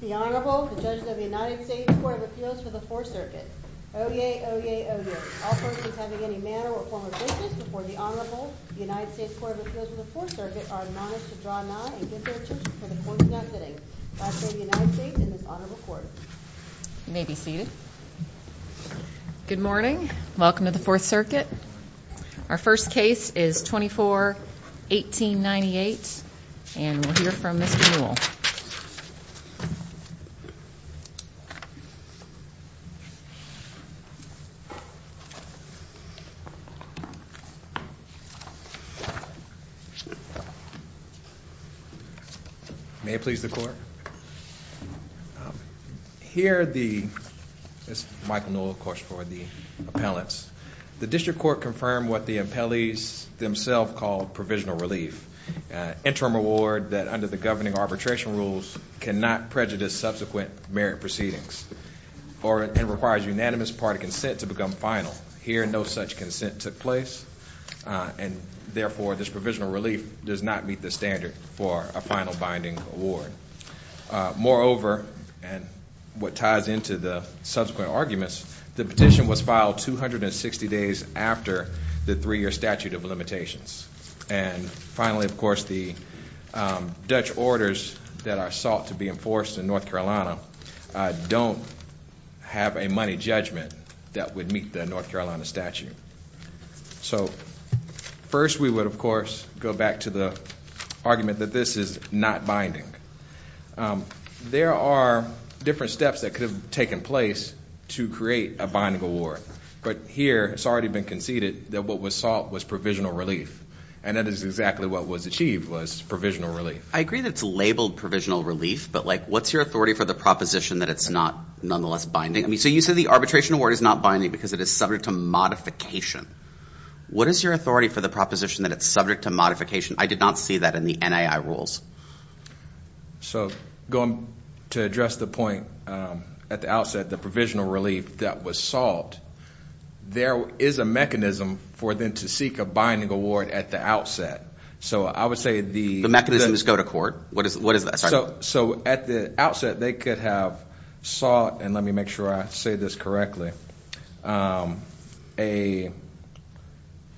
The Honorable, the Judges of the United States Court of Appeals for the Fourth Circuit, Oye Oye Oye. All persons having any manner or form of business before the Honorable, the United States Court of Appeals for the Fourth Circuit are admonished to draw nigh and give their judgment before the Court is now sitting. I say the United States and this Honorable Court. You may be seated. Good morning. Welcome to the Fourth Circuit. Our first case is 24-1898 and we'll hear from Mr. Newell. May it please the Court. Here the, this is Michael Newell, of course, for the appellants. The District Court confirmed what the appellees themselves called provisional relief. Interim award that under the governing arbitration rules cannot prejudice subsequent merit proceedings or it requires unanimous party consent to become final. Here no such consent took place and therefore this provisional relief does not meet the standard for a final binding award. Moreover, and what ties into the subsequent arguments, the petition was filed 260 days after the three-year statute of limitations. And finally, of course, the Dutch orders that are sought to be enforced in North Carolina don't have a money judgment that would meet the North Carolina statute. So first we would, of course, go back to the argument that this is not binding. There are different steps that could have taken place to create a binding award. But here it's already been conceded that what was sought was provisional relief. And that is exactly what was achieved was provisional relief. I agree that it's labeled provisional relief, but like what's your authority for the proposition that it's not nonetheless binding? I mean, so you said the arbitration award is not binding because it is subject to modification. What is your authority for the proposition that it's subject to modification? I did not see that in the NAI rules. So going to address the point at the outset, the provisional relief that was sought, there is a mechanism for them to seek a binding award at the outset. So I would say the- The mechanisms go to court. What is that? Sorry. So at the outset, they could have sought, and let me make sure I say this correctly, a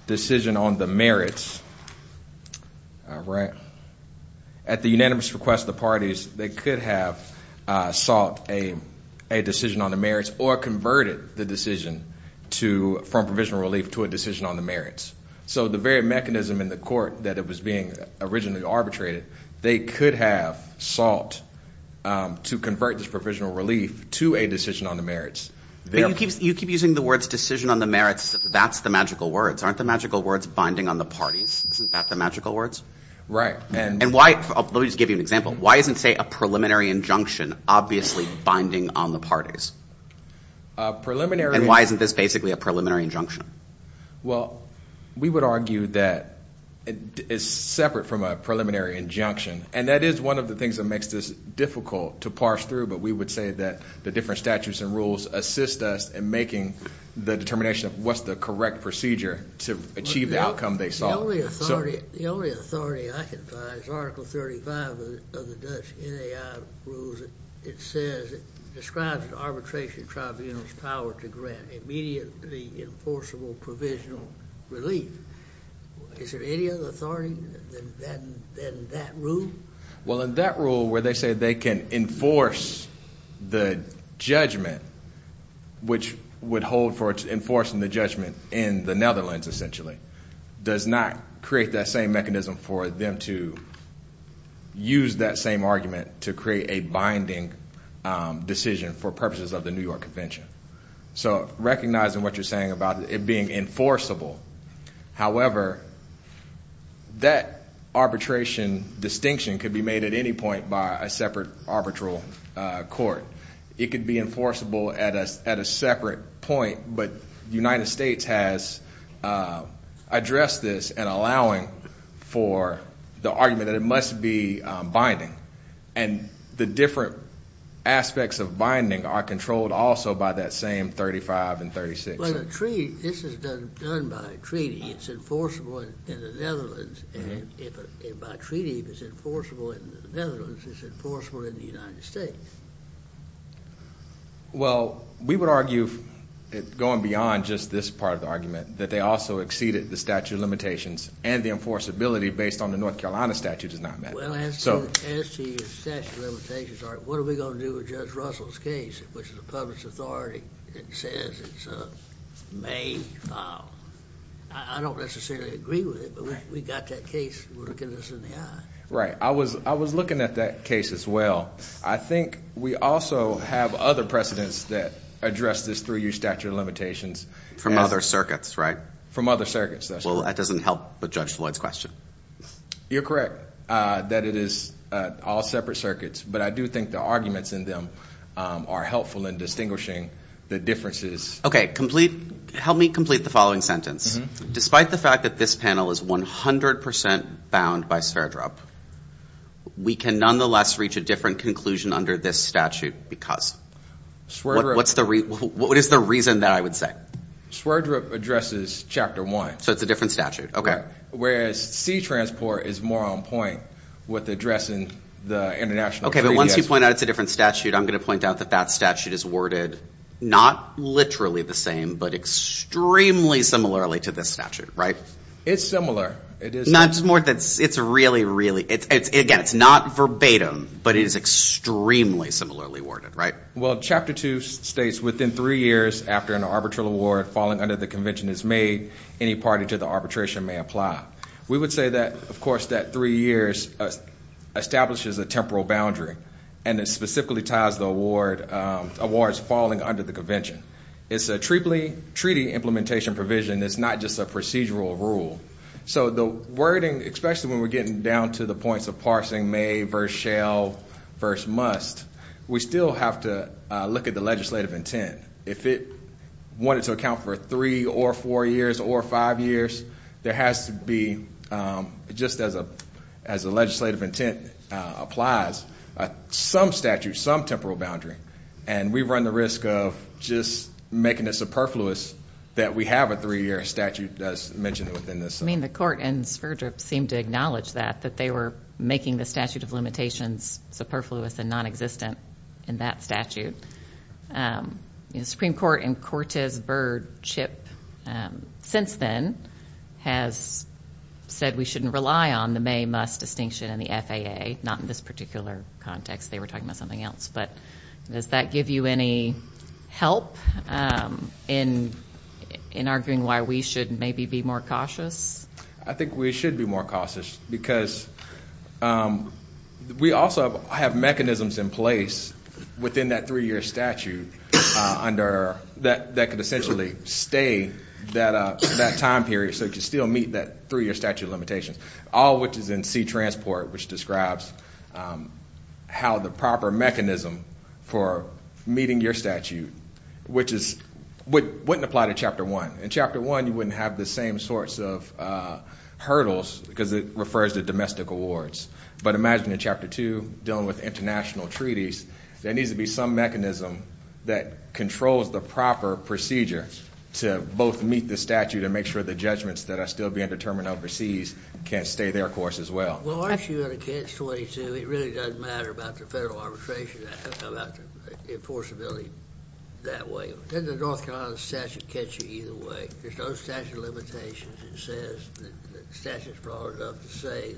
decision on the merits. All right. At the unanimous request of the parties, they could have sought a decision on the merits or converted the decision from provisional relief to a decision on the merits. So the very mechanism in the court that it was being originally arbitrated, they could have sought to convert this provisional relief to a decision on the merits. You keep using the words decision on the merits. That's the magical words. Aren't the magical words binding on the parties? Isn't that the magical words? Right. And why? Let me just give you an example. Why isn't, say, a preliminary injunction obviously binding on the parties? A preliminary- And why isn't this basically a preliminary injunction? Well, we would argue that it's separate from a preliminary injunction, and that is one of the things that makes this difficult to parse through, but we would say that the different statutes and rules assist us in making the determination of what's the correct procedure to achieve the outcome they sought. The only authority I can find is Article 35 of the Dutch NAI rules. It says it describes arbitration tribunal's power to grant immediately enforceable provisional relief. Is there any other authority than that rule? Well, in that rule where they say they can enforce the judgment, which would hold for enforcing the judgment in the Netherlands essentially, does not create that same mechanism for them to use that same argument to create a binding decision for purposes of the New York Convention. So recognizing what you're saying about it being enforceable, however, that arbitration distinction could be made at any point by a separate arbitral court. It could be enforceable at a separate point, but the United States has addressed this in allowing for the argument that it must be binding, and the different aspects of binding are controlled also by that same 35 and 36. This is done by treaty. It's enforceable in the Netherlands, and by treaty, it's enforceable in the Netherlands, it's enforceable in the United States. Well, we would argue going beyond just this part of the argument that they also exceeded the statute of limitations and the enforceability based on the North Carolina statute does not matter. Well, as to the statute of limitations, what are we going to do with Judge Russell's case, which is a public authority that says it's a made file? I don't necessarily agree with it, but we've got that case working us in the eye. Right. I was looking at that case as well. I think we also have other precedents that address this through your statute of limitations. From other circuits, right? From other circuits, that's right. Well, that doesn't help with Judge Floyd's question. You're correct that it is all separate circuits, but I do think the arguments in them are helpful in distinguishing the differences. Okay. Help me complete the following sentence. Despite the fact that this panel is 100 percent bound by Sverdrup, we can nonetheless reach a different conclusion under this statute because? Sverdrup. What is the reason that I would say? Sverdrup addresses Chapter 1. So it's a different statute. Okay. Whereas C-Transport is more on point with addressing the international treaty. Okay. But once you point out it's a different statute, I'm going to point out that that statute is worded not literally the same, but extremely similarly to this statute, right? It's similar. It is similar. It's really, really. Again, it's not verbatim, but it is extremely similarly worded, right? Well, Chapter 2 states, within three years after an arbitral award falling under the convention is made, any party to the arbitration may apply. We would say that, of course, that three years establishes a temporal boundary, and it specifically ties the awards falling under the convention. It's a treaty implementation provision. It's not just a procedural rule. So the wording, especially when we're getting down to the points of parsing, may versus shall versus must, we still have to look at the legislative intent. If it wanted to account for three or four years or five years, there has to be, just as a legislative intent applies, some statute, some temporal boundary, and we run the risk of just making it superfluous that we have a three-year statute as mentioned within this. I mean, the court in Sverdrup seemed to acknowledge that, that they were making the statute of limitations superfluous and nonexistent in that statute. The Supreme Court in Cortes, Byrd, Chip, since then, has said we shouldn't rely on the may-must distinction in the FAA, not in this particular context. They were talking about something else. But does that give you any help in arguing why we should maybe be more cautious? I think we should be more cautious because we also have mechanisms in place within that three-year statute that could essentially stay that time period so it could still meet that three-year statute of limitations, all of which is in C-Transport, which describes how the proper mechanism for meeting your statute, which wouldn't apply to Chapter 1. In Chapter 1, you wouldn't have the same sorts of hurdles because it refers to domestic awards. But imagine in Chapter 2, dealing with international treaties, there needs to be some mechanism that controls the proper procedure to both meet the statute and make sure the judgments that are still being determined overseas can stay their course as well. Well, aren't you going to catch 22? It really doesn't matter about the federal arbitration, about the enforceability that way. Doesn't the North Carolina statute catch you either way? There's no statute of limitations. It says that the statute is broad enough to say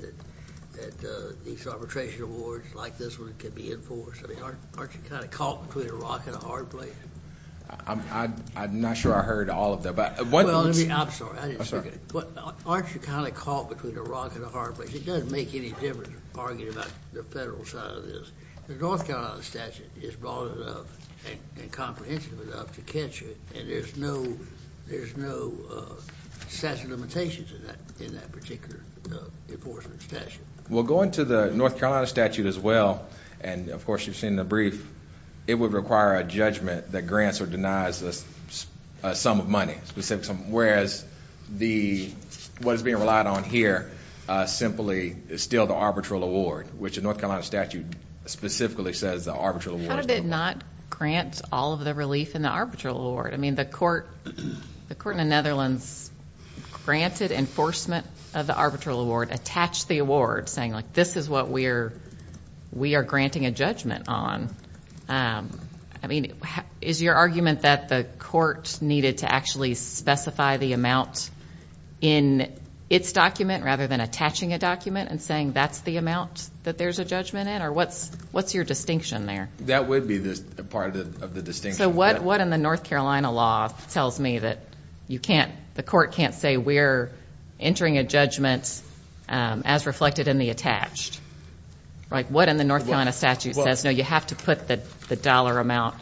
that these arbitration awards like this one can be enforced. I mean, aren't you kind of caught between a rock and a hard place? I'm not sure I heard all of that. Well, I'm sorry. Aren't you kind of caught between a rock and a hard place? It doesn't make any difference arguing about the federal side of this. The North Carolina statute is broad enough and comprehensive enough to catch you, and there's no statute of limitations in that particular enforcement statute. Well, going to the North Carolina statute as well, and, of course, you've seen the brief, it would require a judgment that grants or denies a sum of money, whereas what is being relied on here simply is still the arbitral award, which the North Carolina statute specifically says the arbitral award is the award. How did it not grant all of the relief in the arbitral award? I mean, the court in the Netherlands granted enforcement of the arbitral award, attached the award, saying, like, this is what we are granting a judgment on. I mean, is your argument that the court needed to actually specify the amount in its document rather than attaching a document and saying that's the amount that there's a judgment in? Senator, what's your distinction there? That would be part of the distinction. So what in the North Carolina law tells me that you can't, the court can't say we're entering a judgment as reflected in the attached? Like, what in the North Carolina statute says, no, you have to put the dollar amount,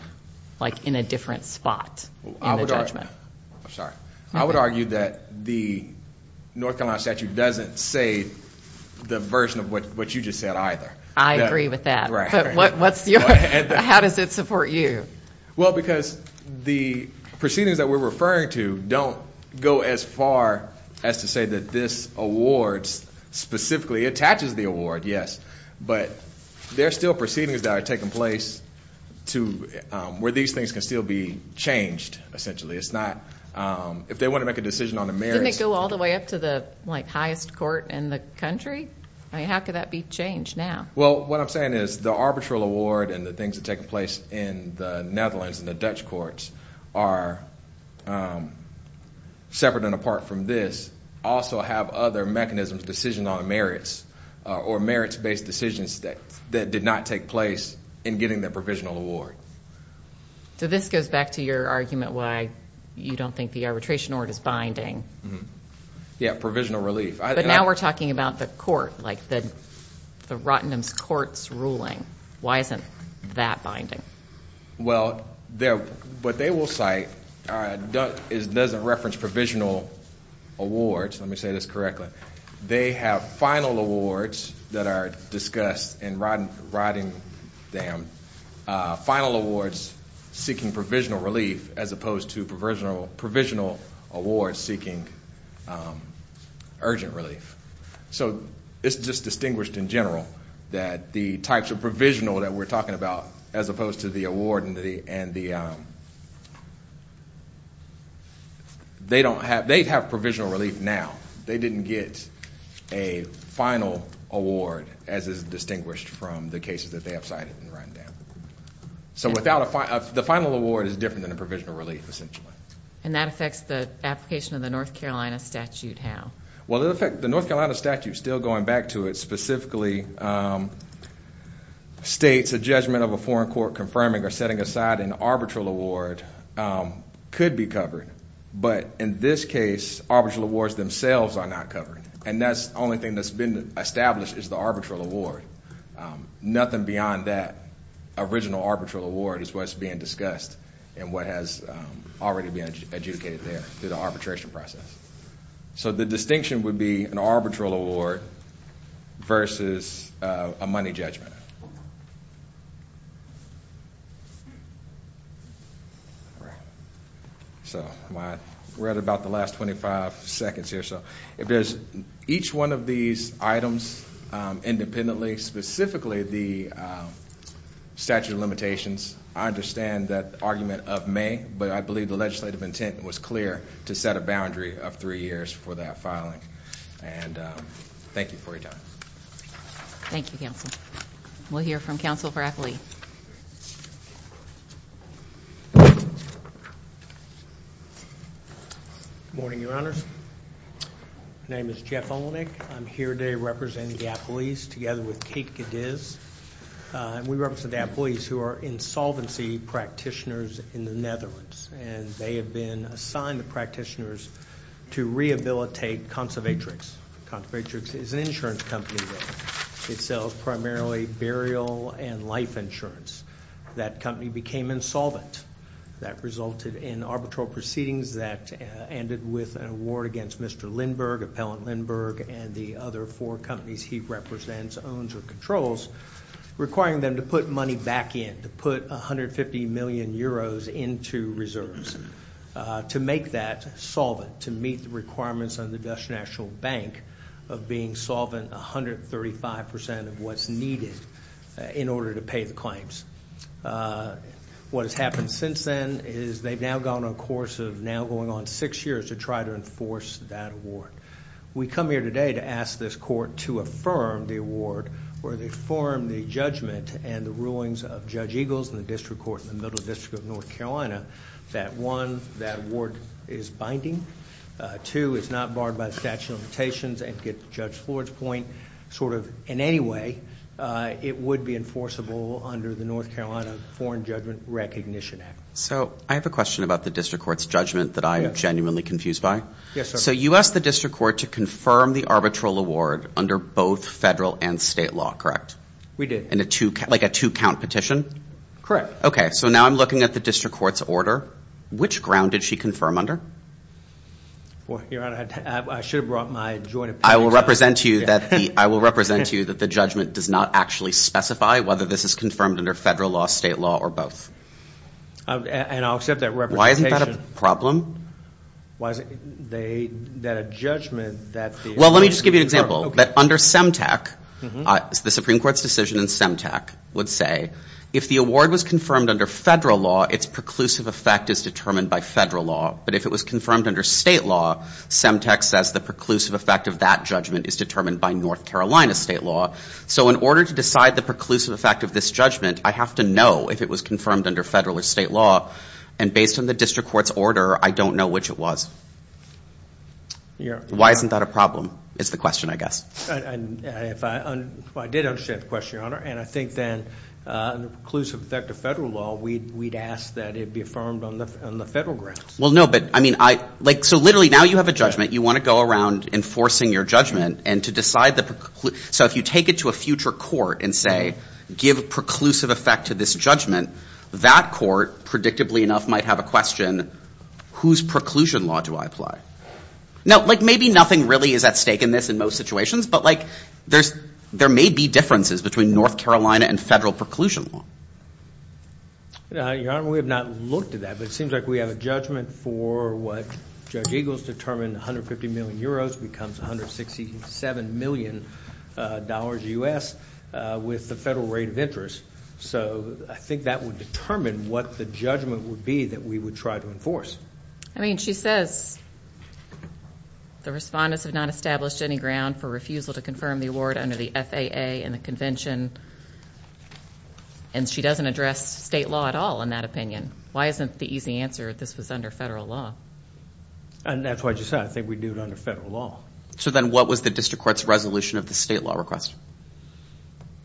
like, in a different spot in the judgment? I'm sorry. I would argue that the North Carolina statute doesn't say the version of what you just said either. I agree with that. But what's your, how does it support you? Well, because the proceedings that we're referring to don't go as far as to say that this award specifically attaches the award, yes. But there are still proceedings that are taking place to, where these things can still be changed, essentially. It's not, if they want to make a decision on the merits. Didn't it go all the way up to the, like, highest court in the country? I agree. I mean, how could that be changed now? Well, what I'm saying is the arbitral award and the things that take place in the Netherlands and the Dutch courts are separate and apart from this, also have other mechanisms, decisions on the merits, or merits-based decisions that did not take place in getting the provisional award. So this goes back to your argument why you don't think the arbitration order is binding. Yeah, provisional relief. But now we're talking about the court, like the Rottenham Court's ruling. Why isn't that binding? Well, what they will cite doesn't reference provisional awards. Let me say this correctly. They have final awards that are discussed in Rottenham, final awards seeking provisional relief as opposed to provisional awards seeking urgent relief. So it's just distinguished in general that the types of provisional that we're talking about, as opposed to the award and the, they don't have, they have provisional relief now. They didn't get a final award, as is distinguished from the cases that they have cited in Rottenham. So the final award is different than a provisional relief, essentially. And that affects the application of the North Carolina statute how? Well, the North Carolina statute, still going back to it, specifically states a judgment of a foreign court confirming or setting aside an arbitral award could be covered. But in this case, arbitral awards themselves are not covered. And that's the only thing that's been established is the arbitral award. Nothing beyond that original arbitral award is what's being discussed and what has already been adjudicated there through the arbitration process. So the distinction would be an arbitral award versus a money judgment. All right. So we're at about the last 25 seconds here. So if there's each one of these items independently, specifically the statute of limitations, I understand that argument of May, but I believe the legislative intent was clear to set a boundary of three years for that filing. And thank you for your time. Thank you, counsel. We'll hear from counsel for appellee. Good morning, Your Honors. My name is Jeff Olenek. I'm here today representing the appellees together with Kate Cadiz. And we represent the appellees who are insolvency practitioners in the Netherlands. And they have been assigned the practitioners to rehabilitate Conservatrix. Conservatrix is an insurance company. It sells primarily burial and life insurance. That company became insolvent. That resulted in arbitral proceedings that ended with an award against Mr. Lindberg, Appellant Lindberg, and the other four companies he represents, owns, or controls, requiring them to put money back in, to put 150 million euros into reserves to make that solvent, to meet the requirements of the Dutch National Bank of being solvent 135% of what's needed in order to pay the claims. What has happened since then is they've now gone on a course of now going on six years to try to enforce that award. We come here today to ask this court to affirm the award, or affirm the judgment and the rulings of Judge Eagles in the district court in the Middle District of North Carolina, that one, that award is binding. Two, it's not barred by the statute of limitations. And to get Judge Floyd's point, sort of in any way, it would be enforceable under the North Carolina Foreign Judgment Recognition Act. So I have a question about the district court's judgment that I am genuinely confused by. Yes, sir. So you asked the district court to confirm the arbitral award under both federal and state law, correct? We did. Like a two-count petition? Correct. Okay. So now I'm looking at the district court's order. Which ground did she confirm under? Your Honor, I should have brought my joint opinion. I will represent to you that the judgment does not actually specify whether this is confirmed under federal law, state law, or both. And I'll accept that representation. Why isn't that a problem? Why is it that a judgment that the- Well, let me just give you an example. But under SEMTAC, the Supreme Court's decision in SEMTAC would say, if the award was confirmed under federal law, its preclusive effect is determined by federal law. But if it was confirmed under state law, SEMTAC says the preclusive effect of that judgment is determined by North Carolina state law. So in order to decide the preclusive effect of this judgment, I have to know if it was confirmed under federal or state law. And based on the district court's order, I don't know which it was. Why isn't that a problem is the question, I guess. Well, I did understand the question, Your Honor. And I think then the preclusive effect of federal law, we'd ask that it be affirmed on the federal grounds. Well, no, but I mean, like, so literally now you have a judgment. You want to go around enforcing your judgment and to decide the- So if you take it to a future court and say, give a preclusive effect to this judgment, that court, predictably enough, might have a question, whose preclusion law do I apply? Now, like, maybe nothing really is at stake in this in most situations, but, like, there may be differences between North Carolina and federal preclusion law. Your Honor, we have not looked at that, but it seems like we have a judgment for what Judge Eagles determined, 150 million euros becomes $167 million U.S. with the federal rate of interest. So I think that would determine what the judgment would be that we would try to enforce. I mean, she says the respondents have not established any ground for refusal to confirm the award under the FAA and the convention, and she doesn't address state law at all in that opinion. Why isn't the easy answer this was under federal law? And that's what you said. I think we do it under federal law. So then what was the district court's resolution of the state law request?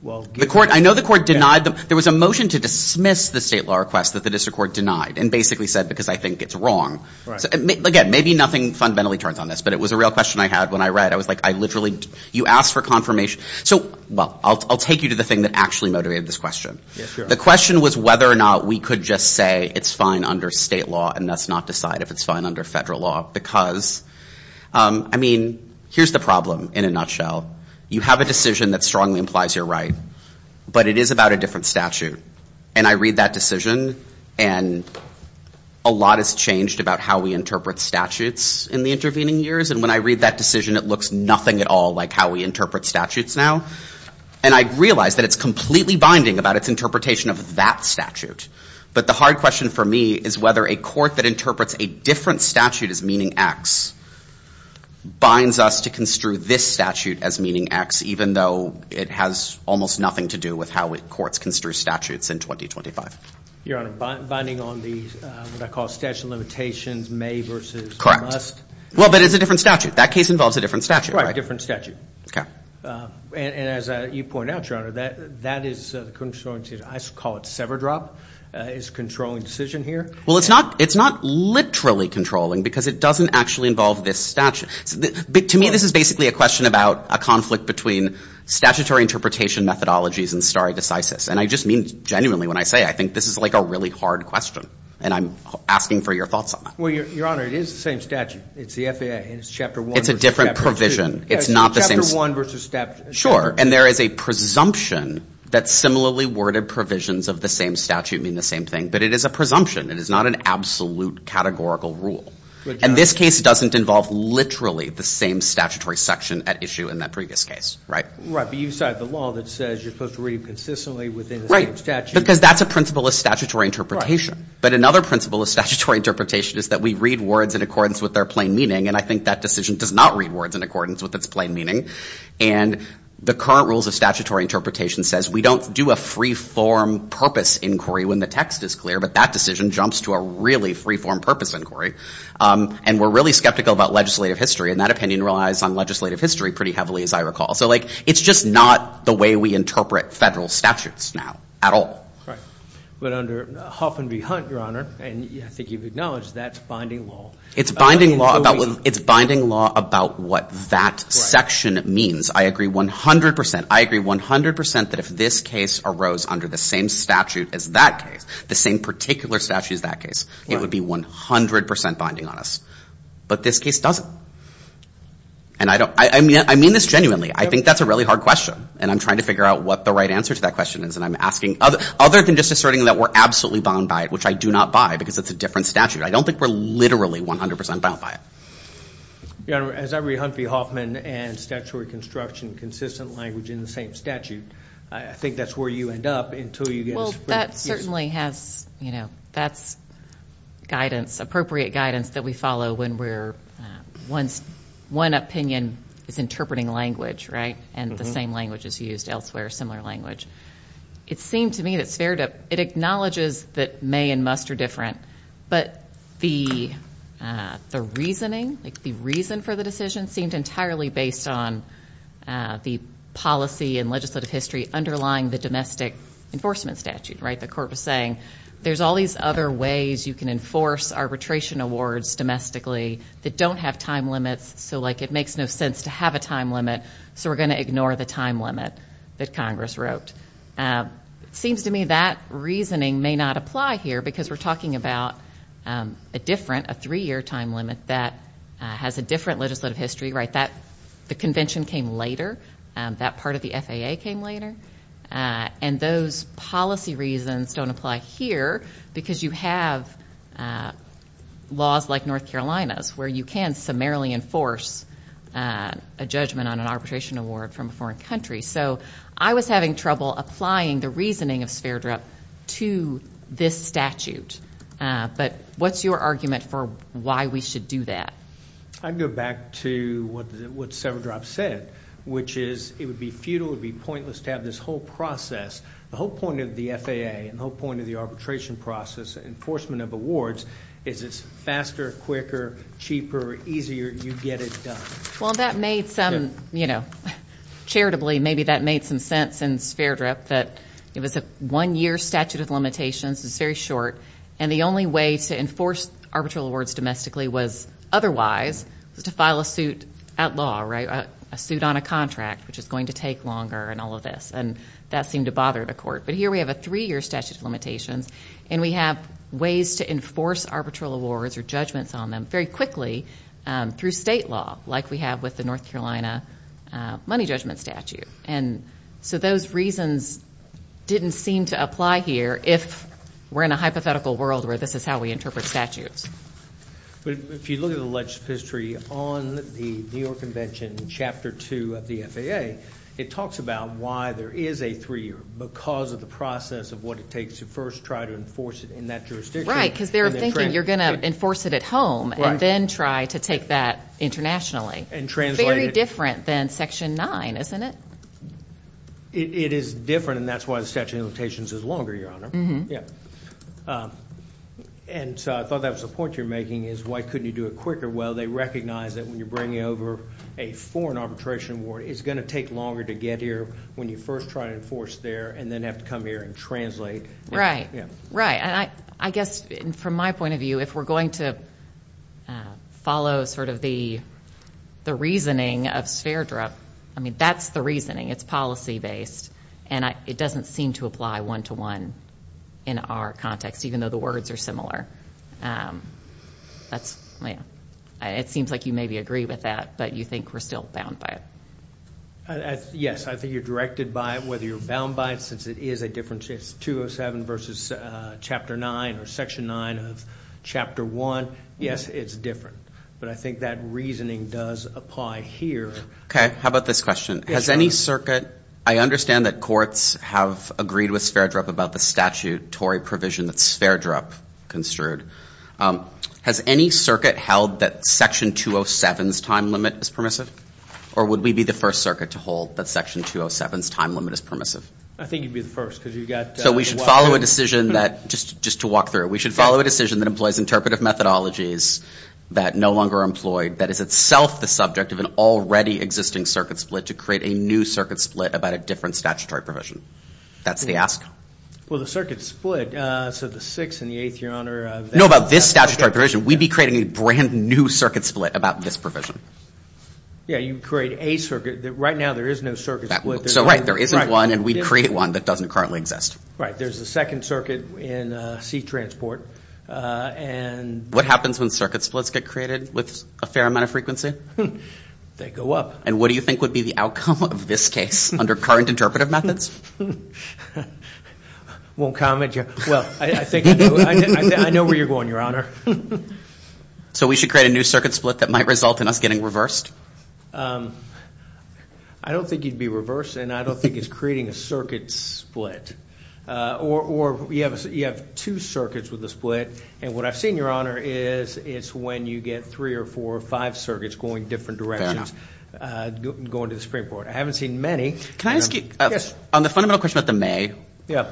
Well, the court, I know the court denied them. There was a motion to dismiss the state law request that the district court denied and basically said because I think it's wrong. Again, maybe nothing fundamentally turns on this, but it was a real question I had when I read. I was like, I literally, you asked for confirmation. So, well, I'll take you to the thing that actually motivated this question. The question was whether or not we could just say it's fine under state law and thus not decide if it's fine under federal law because, I mean, here's the problem in a nutshell. You have a decision that strongly implies you're right, but it is about a different statute. And I read that decision, and a lot has changed about how we interpret statutes in the intervening years. And when I read that decision, it looks nothing at all like how we interpret statutes now. And I realize that it's completely binding about its interpretation of that statute. But the hard question for me is whether a court that interprets a different statute as meaning X binds us to construe this statute as meaning X, even though it has almost nothing to do with how courts construe statutes in 2025. Your Honor, binding on the what I call statute of limitations, may versus must? Well, but it's a different statute. That case involves a different statute, right? Right, a different statute. Okay. And as you point out, Your Honor, that is the controlling decision. I call it sever drop. It's a controlling decision here. Well, it's not literally controlling because it doesn't actually involve this statute. To me, this is basically a question about a conflict between statutory interpretation methodologies and stare decisis. And I just mean genuinely when I say I think this is like a really hard question. And I'm asking for your thoughts on that. Well, Your Honor, it is the same statute. It's the FAA. It's Chapter 1 versus Chapter 2. It's a different provision. It's not the same. Chapter 1 versus Chapter 2. Sure, and there is a presumption that similarly worded provisions of the same statute mean the same thing. But it is a presumption. It is not an absolute categorical rule. And this case doesn't involve literally the same statutory section at issue in that previous case, right? Right, but you cited the law that says you're supposed to read consistently within the same statute. Right, because that's a principle of statutory interpretation. Right. But another principle of statutory interpretation is that we read words in accordance with their plain meaning. And I think that decision does not read words in accordance with its plain meaning. And the current rules of statutory interpretation says we don't do a free-form purpose inquiry when the text is clear. But that decision jumps to a really free-form purpose inquiry. And we're really skeptical about legislative history. And that opinion relies on legislative history pretty heavily, as I recall. So, like, it's just not the way we interpret federal statutes now at all. Right. But under Hoffman v. Hunt, Your Honor, and I think you've acknowledged that's binding law. It's binding law about what that section means. I agree 100%. I agree 100% that if this case arose under the same statute as that case, the same particular statute as that case, it would be 100% binding on us. But this case doesn't. And I mean this genuinely. I think that's a really hard question. And I'm trying to figure out what the right answer to that question is. And I'm asking other than just asserting that we're absolutely bound by it, which I do not buy because it's a different statute. I don't think we're literally 100% bound by it. Your Honor, as I read Hunt v. Hoffman and statutory construction consistent language in the same statute, I think that's where you end up until you get a split. Well, that certainly has, you know, that's guidance, appropriate guidance that we follow when we're one opinion is interpreting language, right? And the same language is used elsewhere, similar language. It seemed to me that it acknowledges that may and must are different. But the reasoning, like the reason for the decision seemed entirely based on the policy and legislative history underlying the domestic enforcement statute, right? The court was saying there's all these other ways you can enforce arbitration awards domestically that don't have time limits. So, like, it makes no sense to have a time limit, so we're going to ignore the time limit that Congress wrote. It seems to me that reasoning may not apply here because we're talking about a different, a three-year time limit that has a different legislative history, right? The convention came later. That part of the FAA came later. And those policy reasons don't apply here because you have laws like North Carolina's where you can summarily enforce a judgment on an arbitration award from a foreign country. So I was having trouble applying the reasoning of Sverdrup to this statute. But what's your argument for why we should do that? I'd go back to what Sverdrup said, which is it would be futile, it would be pointless to have this whole process, the whole point of the FAA and the whole point of the arbitration process, enforcement of awards, is it's faster, quicker, cheaper, easier, you get it done. Well, that made some, you know, charitably, maybe that made some sense in Sverdrup that it was a one-year statute of limitations. It's very short. And the only way to enforce arbitral awards domestically was otherwise was to file a suit at law, right? A suit on a contract, which is going to take longer and all of this. And that seemed to bother the court. But here we have a three-year statute of limitations, and we have ways to enforce arbitral awards or judgments on them very quickly through state law, like we have with the North Carolina money judgment statute. And so those reasons didn't seem to apply here if we're in a hypothetical world where this is how we interpret statutes. But if you look at the legislative history on the New York Convention, Chapter 2 of the FAA, it talks about why there is a three-year, because of the process of what it takes to first try to enforce it in that jurisdiction. Right, because they're thinking you're going to enforce it at home and then try to take that internationally. Very different than Section 9, isn't it? It is different, and that's why the statute of limitations is longer, Your Honor. And so I thought that was a point you were making is why couldn't you do it quicker? Well, they recognize that when you're bringing over a foreign arbitration award, it's going to take longer to get here when you first try to enforce there and then have to come here and translate. Right, right. And I guess, from my point of view, if we're going to follow sort of the reasoning of SFERDRA, I mean, that's the reasoning. It's policy-based. And it doesn't seem to apply one-to-one in our context, even though the words are similar. That's, you know, it seems like you maybe agree with that, but you think we're still bound by it. Yes, I think you're directed by it, whether you're bound by it, since it is a difference. It's 207 versus Chapter 9 or Section 9 of Chapter 1. Yes, it's different. But I think that reasoning does apply here. Okay. How about this question? Yes, Your Honor. I understand that courts have agreed with SFERDRA about the statutory provision that SFERDRA construed. Has any circuit held that Section 207's time limit is permissive? Or would we be the first circuit to hold that Section 207's time limit is permissive? I think you'd be the first. So we should follow a decision that, just to walk through it, we should follow a decision that employs interpretive methodologies that no longer are employed, that is itself the subject of an already existing circuit split, to create a new circuit split about a different statutory provision. That's the ask. Well, the circuit split, so the 6th and the 8th, Your Honor. No, about this statutory provision. We'd be creating a brand-new circuit split about this provision. Yes, you'd create a circuit. Right now there is no circuit split. So, right, there isn't one, and we'd create one that doesn't currently exist. Right. There's a second circuit in C-Transport. What happens when circuit splits get created with a fair amount of frequency? They go up. And what do you think would be the outcome of this case under current interpretive methods? I won't comment. Well, I think I know where you're going, Your Honor. So we should create a new circuit split that might result in us getting reversed? I don't think you'd be reversed, and I don't think it's creating a circuit split. Or you have two circuits with a split, and what I've seen, Your Honor, is it's when you get three or four or five circuits going different directions, going to the Supreme Court. I haven't seen many. Can I ask you? Yes. On the fundamental question about the may. Yeah.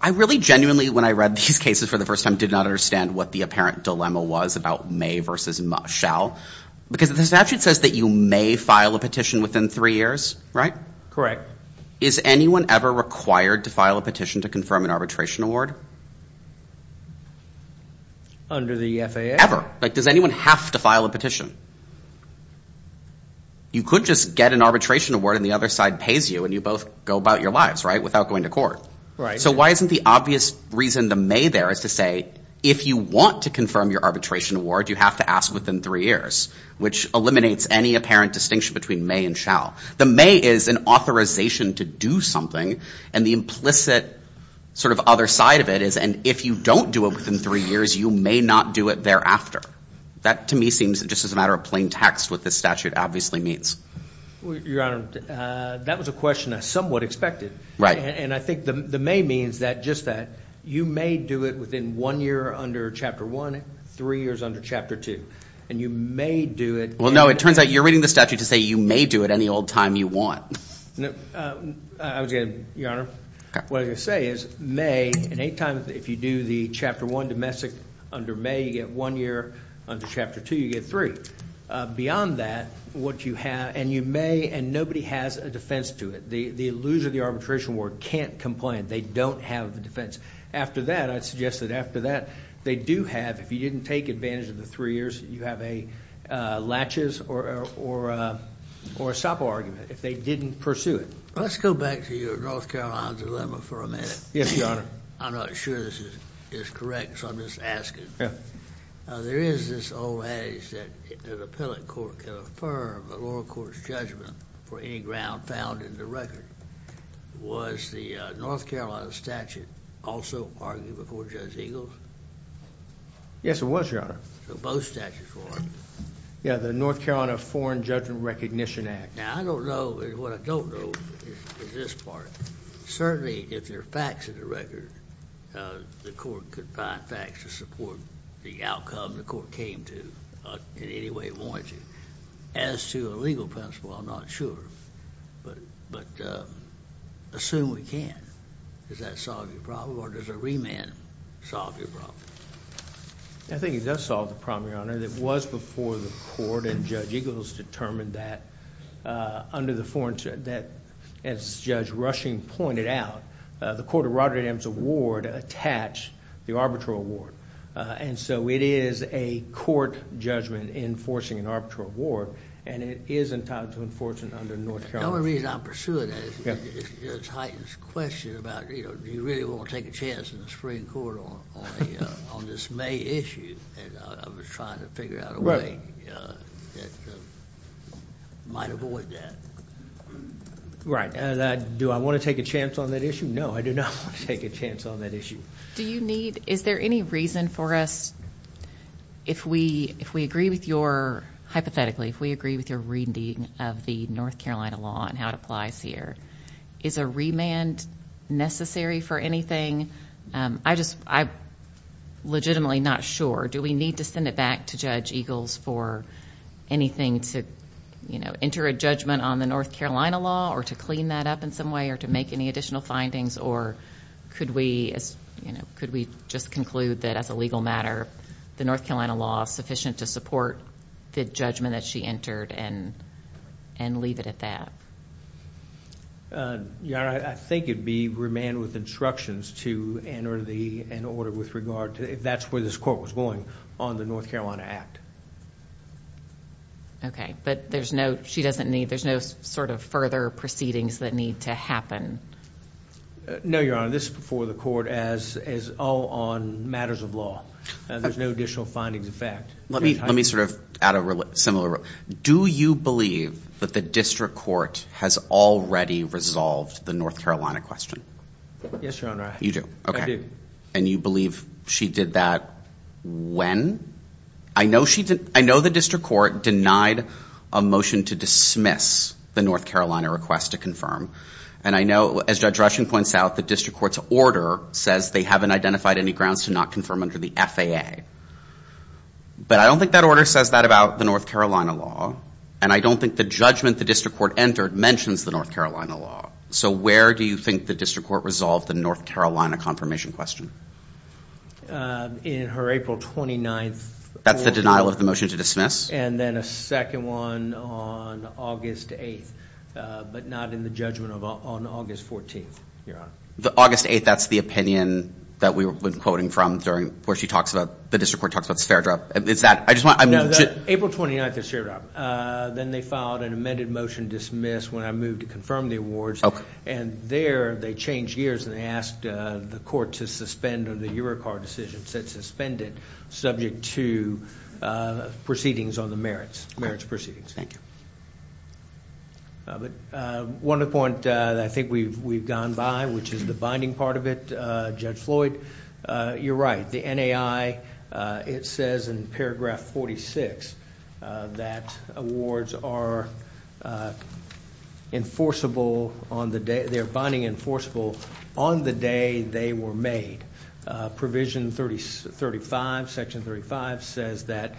I really genuinely, when I read these cases for the first time, did not understand what the apparent dilemma was about may versus shall. Because the statute says that you may file a petition within three years, right? Correct. Is anyone ever required to file a petition to confirm an arbitration award? Under the FAA? Ever. Like, does anyone have to file a petition? You could just get an arbitration award, and the other side pays you, and you both go about your lives, right, without going to court. Right. And so why isn't the obvious reason the may there is to say, if you want to confirm your arbitration award, you have to ask within three years, which eliminates any apparent distinction between may and shall. The may is an authorization to do something, and the implicit sort of other side of it is, and if you don't do it within three years, you may not do it thereafter. That, to me, seems just as a matter of plain text what this statute obviously means. Your Honor, that was a question I somewhat expected. Right. And I think the may means just that you may do it within one year under Chapter 1, three years under Chapter 2, and you may do it. Well, no, it turns out you're reading the statute to say you may do it any old time you want. I was going to, Your Honor, what I was going to say is may, and any time if you do the Chapter 1 domestic under may, you get one year. Under Chapter 2, you get three. Beyond that, what you have, and you may, and nobody has a defense to it. The loser of the arbitration war can't complain. They don't have a defense. After that, I'd suggest that after that, they do have, if you didn't take advantage of the three years, you have a laches or a Sapo argument, if they didn't pursue it. Let's go back to your North Carolina dilemma for a minute. Yes, Your Honor. I'm not sure this is correct, so I'm just asking. There is this old adage that an appellate court can affirm a lower court's judgment for any ground found in the record. Was the North Carolina statute also argued before Judge Eagles? Yes, it was, Your Honor. So both statutes were. Yeah, the North Carolina Foreign Judgment Recognition Act. Now, I don't know, and what I don't know is this part. Certainly, if there are facts in the record, the court could find facts to support the outcome the court came to in any way it wanted to. As to a legal principle, I'm not sure. But assume we can. Does that solve your problem, or does a remand solve your problem? I think it does solve the problem, Your Honor. It was before the court and Judge Eagles determined that under the Foreign Judgment Act, as Judge Rushing pointed out, the Court of Rotterdam's award attached the arbitral award. And so it is a court judgment enforcing an arbitral award, and it is entitled to enforcement under North Carolina. The only reason I'm pursuing that is because it heightens the question about, you know, do you really want to take a chance in the Supreme Court on this May issue? And I was trying to figure out a way that might avoid that. Right. Do I want to take a chance on that issue? No, I do not want to take a chance on that issue. Do you need, is there any reason for us, if we agree with your, hypothetically, if we agree with your reading of the North Carolina law and how it applies here, is a remand necessary for anything? I just, I'm legitimately not sure. Do we need to send it back to Judge Eagles for anything to, you know, enter a judgment on the North Carolina law or to clean that up in some way to make any additional findings, or could we, you know, could we just conclude that as a legal matter the North Carolina law is sufficient to support the judgment that she entered and leave it at that? Your Honor, I think it would be remand with instructions to enter an order with regard to, if that's where this court was going, on the North Carolina Act. Okay, but there's no, she doesn't need, there's no sort of further proceedings that need to happen? No, Your Honor. This is before the court as all on matters of law. There's no additional findings of fact. Let me sort of add a similar, do you believe that the district court has already resolved the North Carolina question? Yes, Your Honor. You do? Okay. I do. And you believe she did that when? I know she, I know the district court denied a motion to dismiss the North Carolina request to confirm, and I know, as Judge Rushing points out, the district court's order says they haven't identified any grounds to not confirm under the FAA. But I don't think that order says that about the North Carolina law, and I don't think the judgment the district court entered mentions the North Carolina law. So where do you think the district court resolved the North Carolina confirmation question? In her April 29th order. That's the denial of the motion to dismiss? And then a second one on August 8th, but not in the judgment on August 14th, Your Honor. The August 8th, that's the opinion that we've been quoting from during, where she talks about, the district court talks about Spheredrop. Is that, I just want, I'm just. No, April 29th is Spheredrop. Then they filed an amended motion to dismiss when I moved to confirm the awards. Okay. And there they changed gears and they asked the court to suspend, or the Eurocard decision said suspend it, subject to proceedings on the merits. Merits proceedings. One other point that I think we've gone by, which is the binding part of it, Judge Floyd, you're right. The NAI, it says in paragraph 46 that awards are enforceable on the day, they're binding enforceable on the day they were made. Provision 35, section 35 says that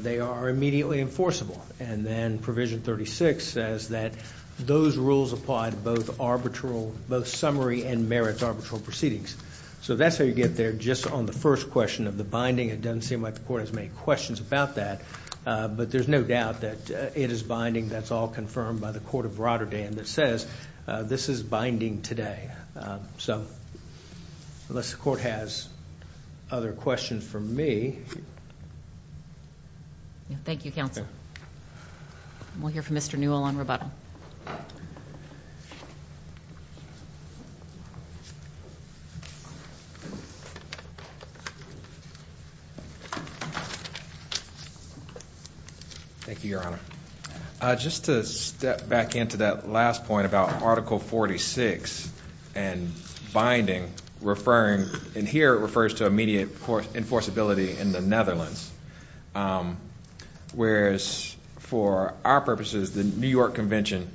they are immediately enforceable. And then provision 36 says that those rules apply to both arbitral, both summary and merits arbitral proceedings. So that's how you get there just on the first question of the binding. It doesn't seem like the court has made questions about that. But there's no doubt that it is binding. That's all confirmed by the court of Rotterdam that says this is binding today. So unless the court has other questions for me. Thank you, counsel. We'll hear from Mr. Newell on rebuttal. Thank you, Your Honor. Just to step back into that last point about Article 46 and binding, and here it refers to immediate enforceability in the Netherlands. Whereas for our purposes, the New York Convention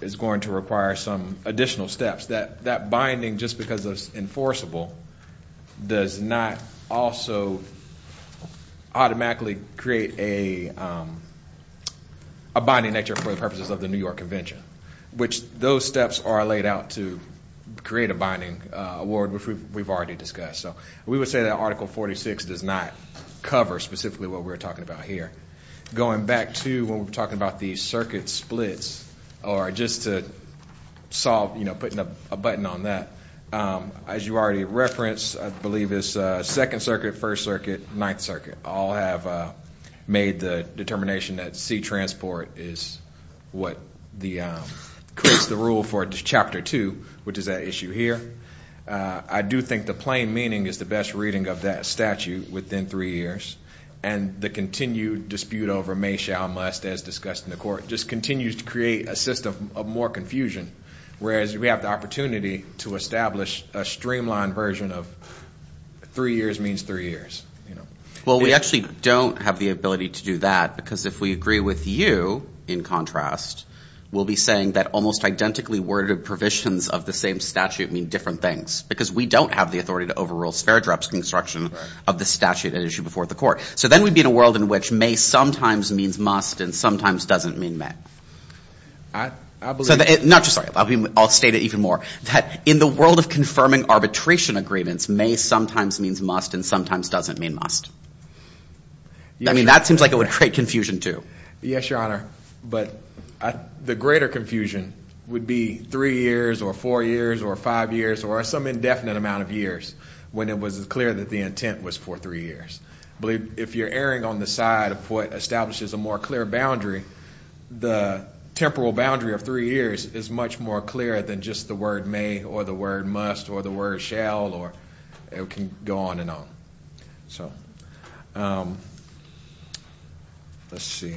is going to require some additional steps. That binding, just because it's enforceable, does not also automatically create a binding nature for the purposes of the New York Convention, which those steps are laid out to create a binding award, which we've already discussed. We would say that Article 46 does not cover specifically what we're talking about here. Going back to when we were talking about the circuit splits, or just to solve, you know, putting a button on that, as you already referenced, I believe it's Second Circuit, First Circuit, Ninth Circuit, all have made the determination that sea transport is what creates the rule for Chapter 2, which is that issue here. I do think the plain meaning is the best reading of that statute within three years. And the continued dispute over may, shall, must, as discussed in the Court, just continues to create a system of more confusion, whereas we have the opportunity to establish a streamlined version of three years means three years. Well, we actually don't have the ability to do that because if we agree with you, in contrast, we'll be saying that almost identically worded provisions of the same statute mean different things because we don't have the authority to overrule Sparadrap's construction of the statute at issue before the Court. So then we'd be in a world in which may sometimes means must and sometimes doesn't mean may. I'll state it even more, that in the world of confirming arbitration agreements, may sometimes means must and sometimes doesn't mean must. I mean, that seems like it would create confusion too. Yes, Your Honor, but the greater confusion would be three years or four years or five years or some indefinite amount of years when it was clear that the intent was for three years. But if you're erring on the side of what establishes a more clear boundary, the temporal boundary of three years is much more clear than just the word may or the word must or the word shall or it can go on and on. So let's see.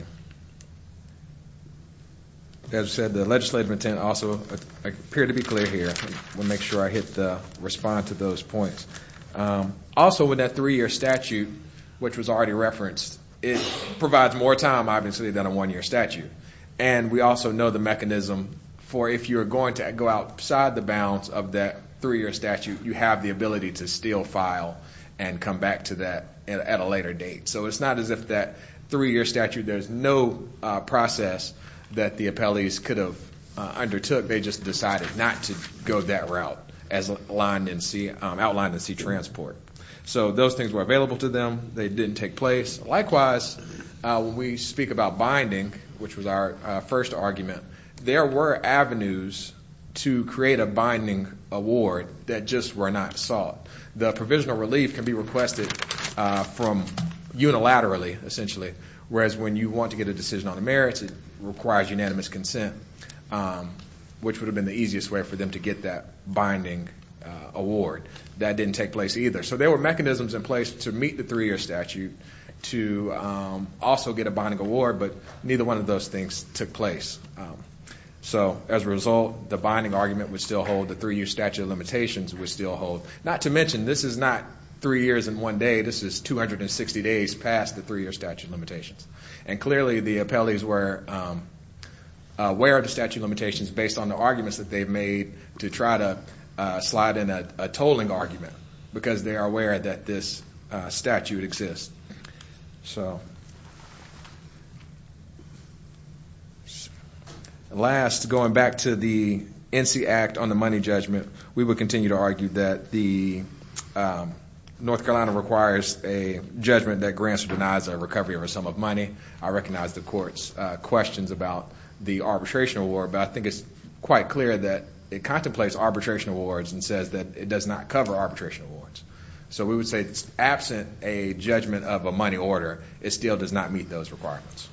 As I said, the legislative intent also appeared to be clear here. We'll make sure I hit the respond to those points. Also, with that three-year statute, which was already referenced, it provides more time, obviously, than a one-year statute. And we also know the mechanism for if you're going to go outside the bounds of that three-year statute, you have the ability to still file and come back to that at a later date. So it's not as if that three-year statute, there's no process that the appellees could have undertook. They just decided not to go that route as outlined in C-Transport. So those things were available to them. They didn't take place. Likewise, when we speak about binding, which was our first argument, there were avenues to create a binding award that just were not sought. The provisional relief can be requested unilaterally, essentially, whereas when you want to get a decision on the merits, it requires unanimous consent, which would have been the easiest way for them to get that binding award. That didn't take place either. So there were mechanisms in place to meet the three-year statute to also get a binding award, but neither one of those things took place. So as a result, the binding argument would still hold. The three-year statute of limitations would still hold. Not to mention, this is not three years in one day. This is 260 days past the three-year statute of limitations. And clearly the appellees were aware of the statute of limitations based on the arguments that they made to try to slide in a tolling argument because they are aware that this statute exists. So last, going back to the NC Act on the money judgment, we would continue to argue that the North Carolina requires a judgment that grants or denies a recovery or a sum of money. I recognize the Court's questions about the arbitration award, but I think it's quite clear that it contemplates arbitration awards and says that it does not cover arbitration awards. So we would say that absent a judgment of a money order, it still does not meet those requirements.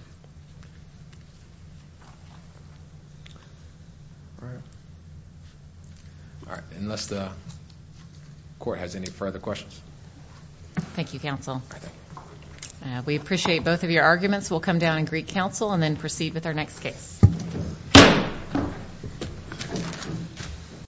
Unless the Court has any further questions. Thank you, Counsel. We appreciate both of your arguments. We'll come down and greet Counsel and then proceed with our next case.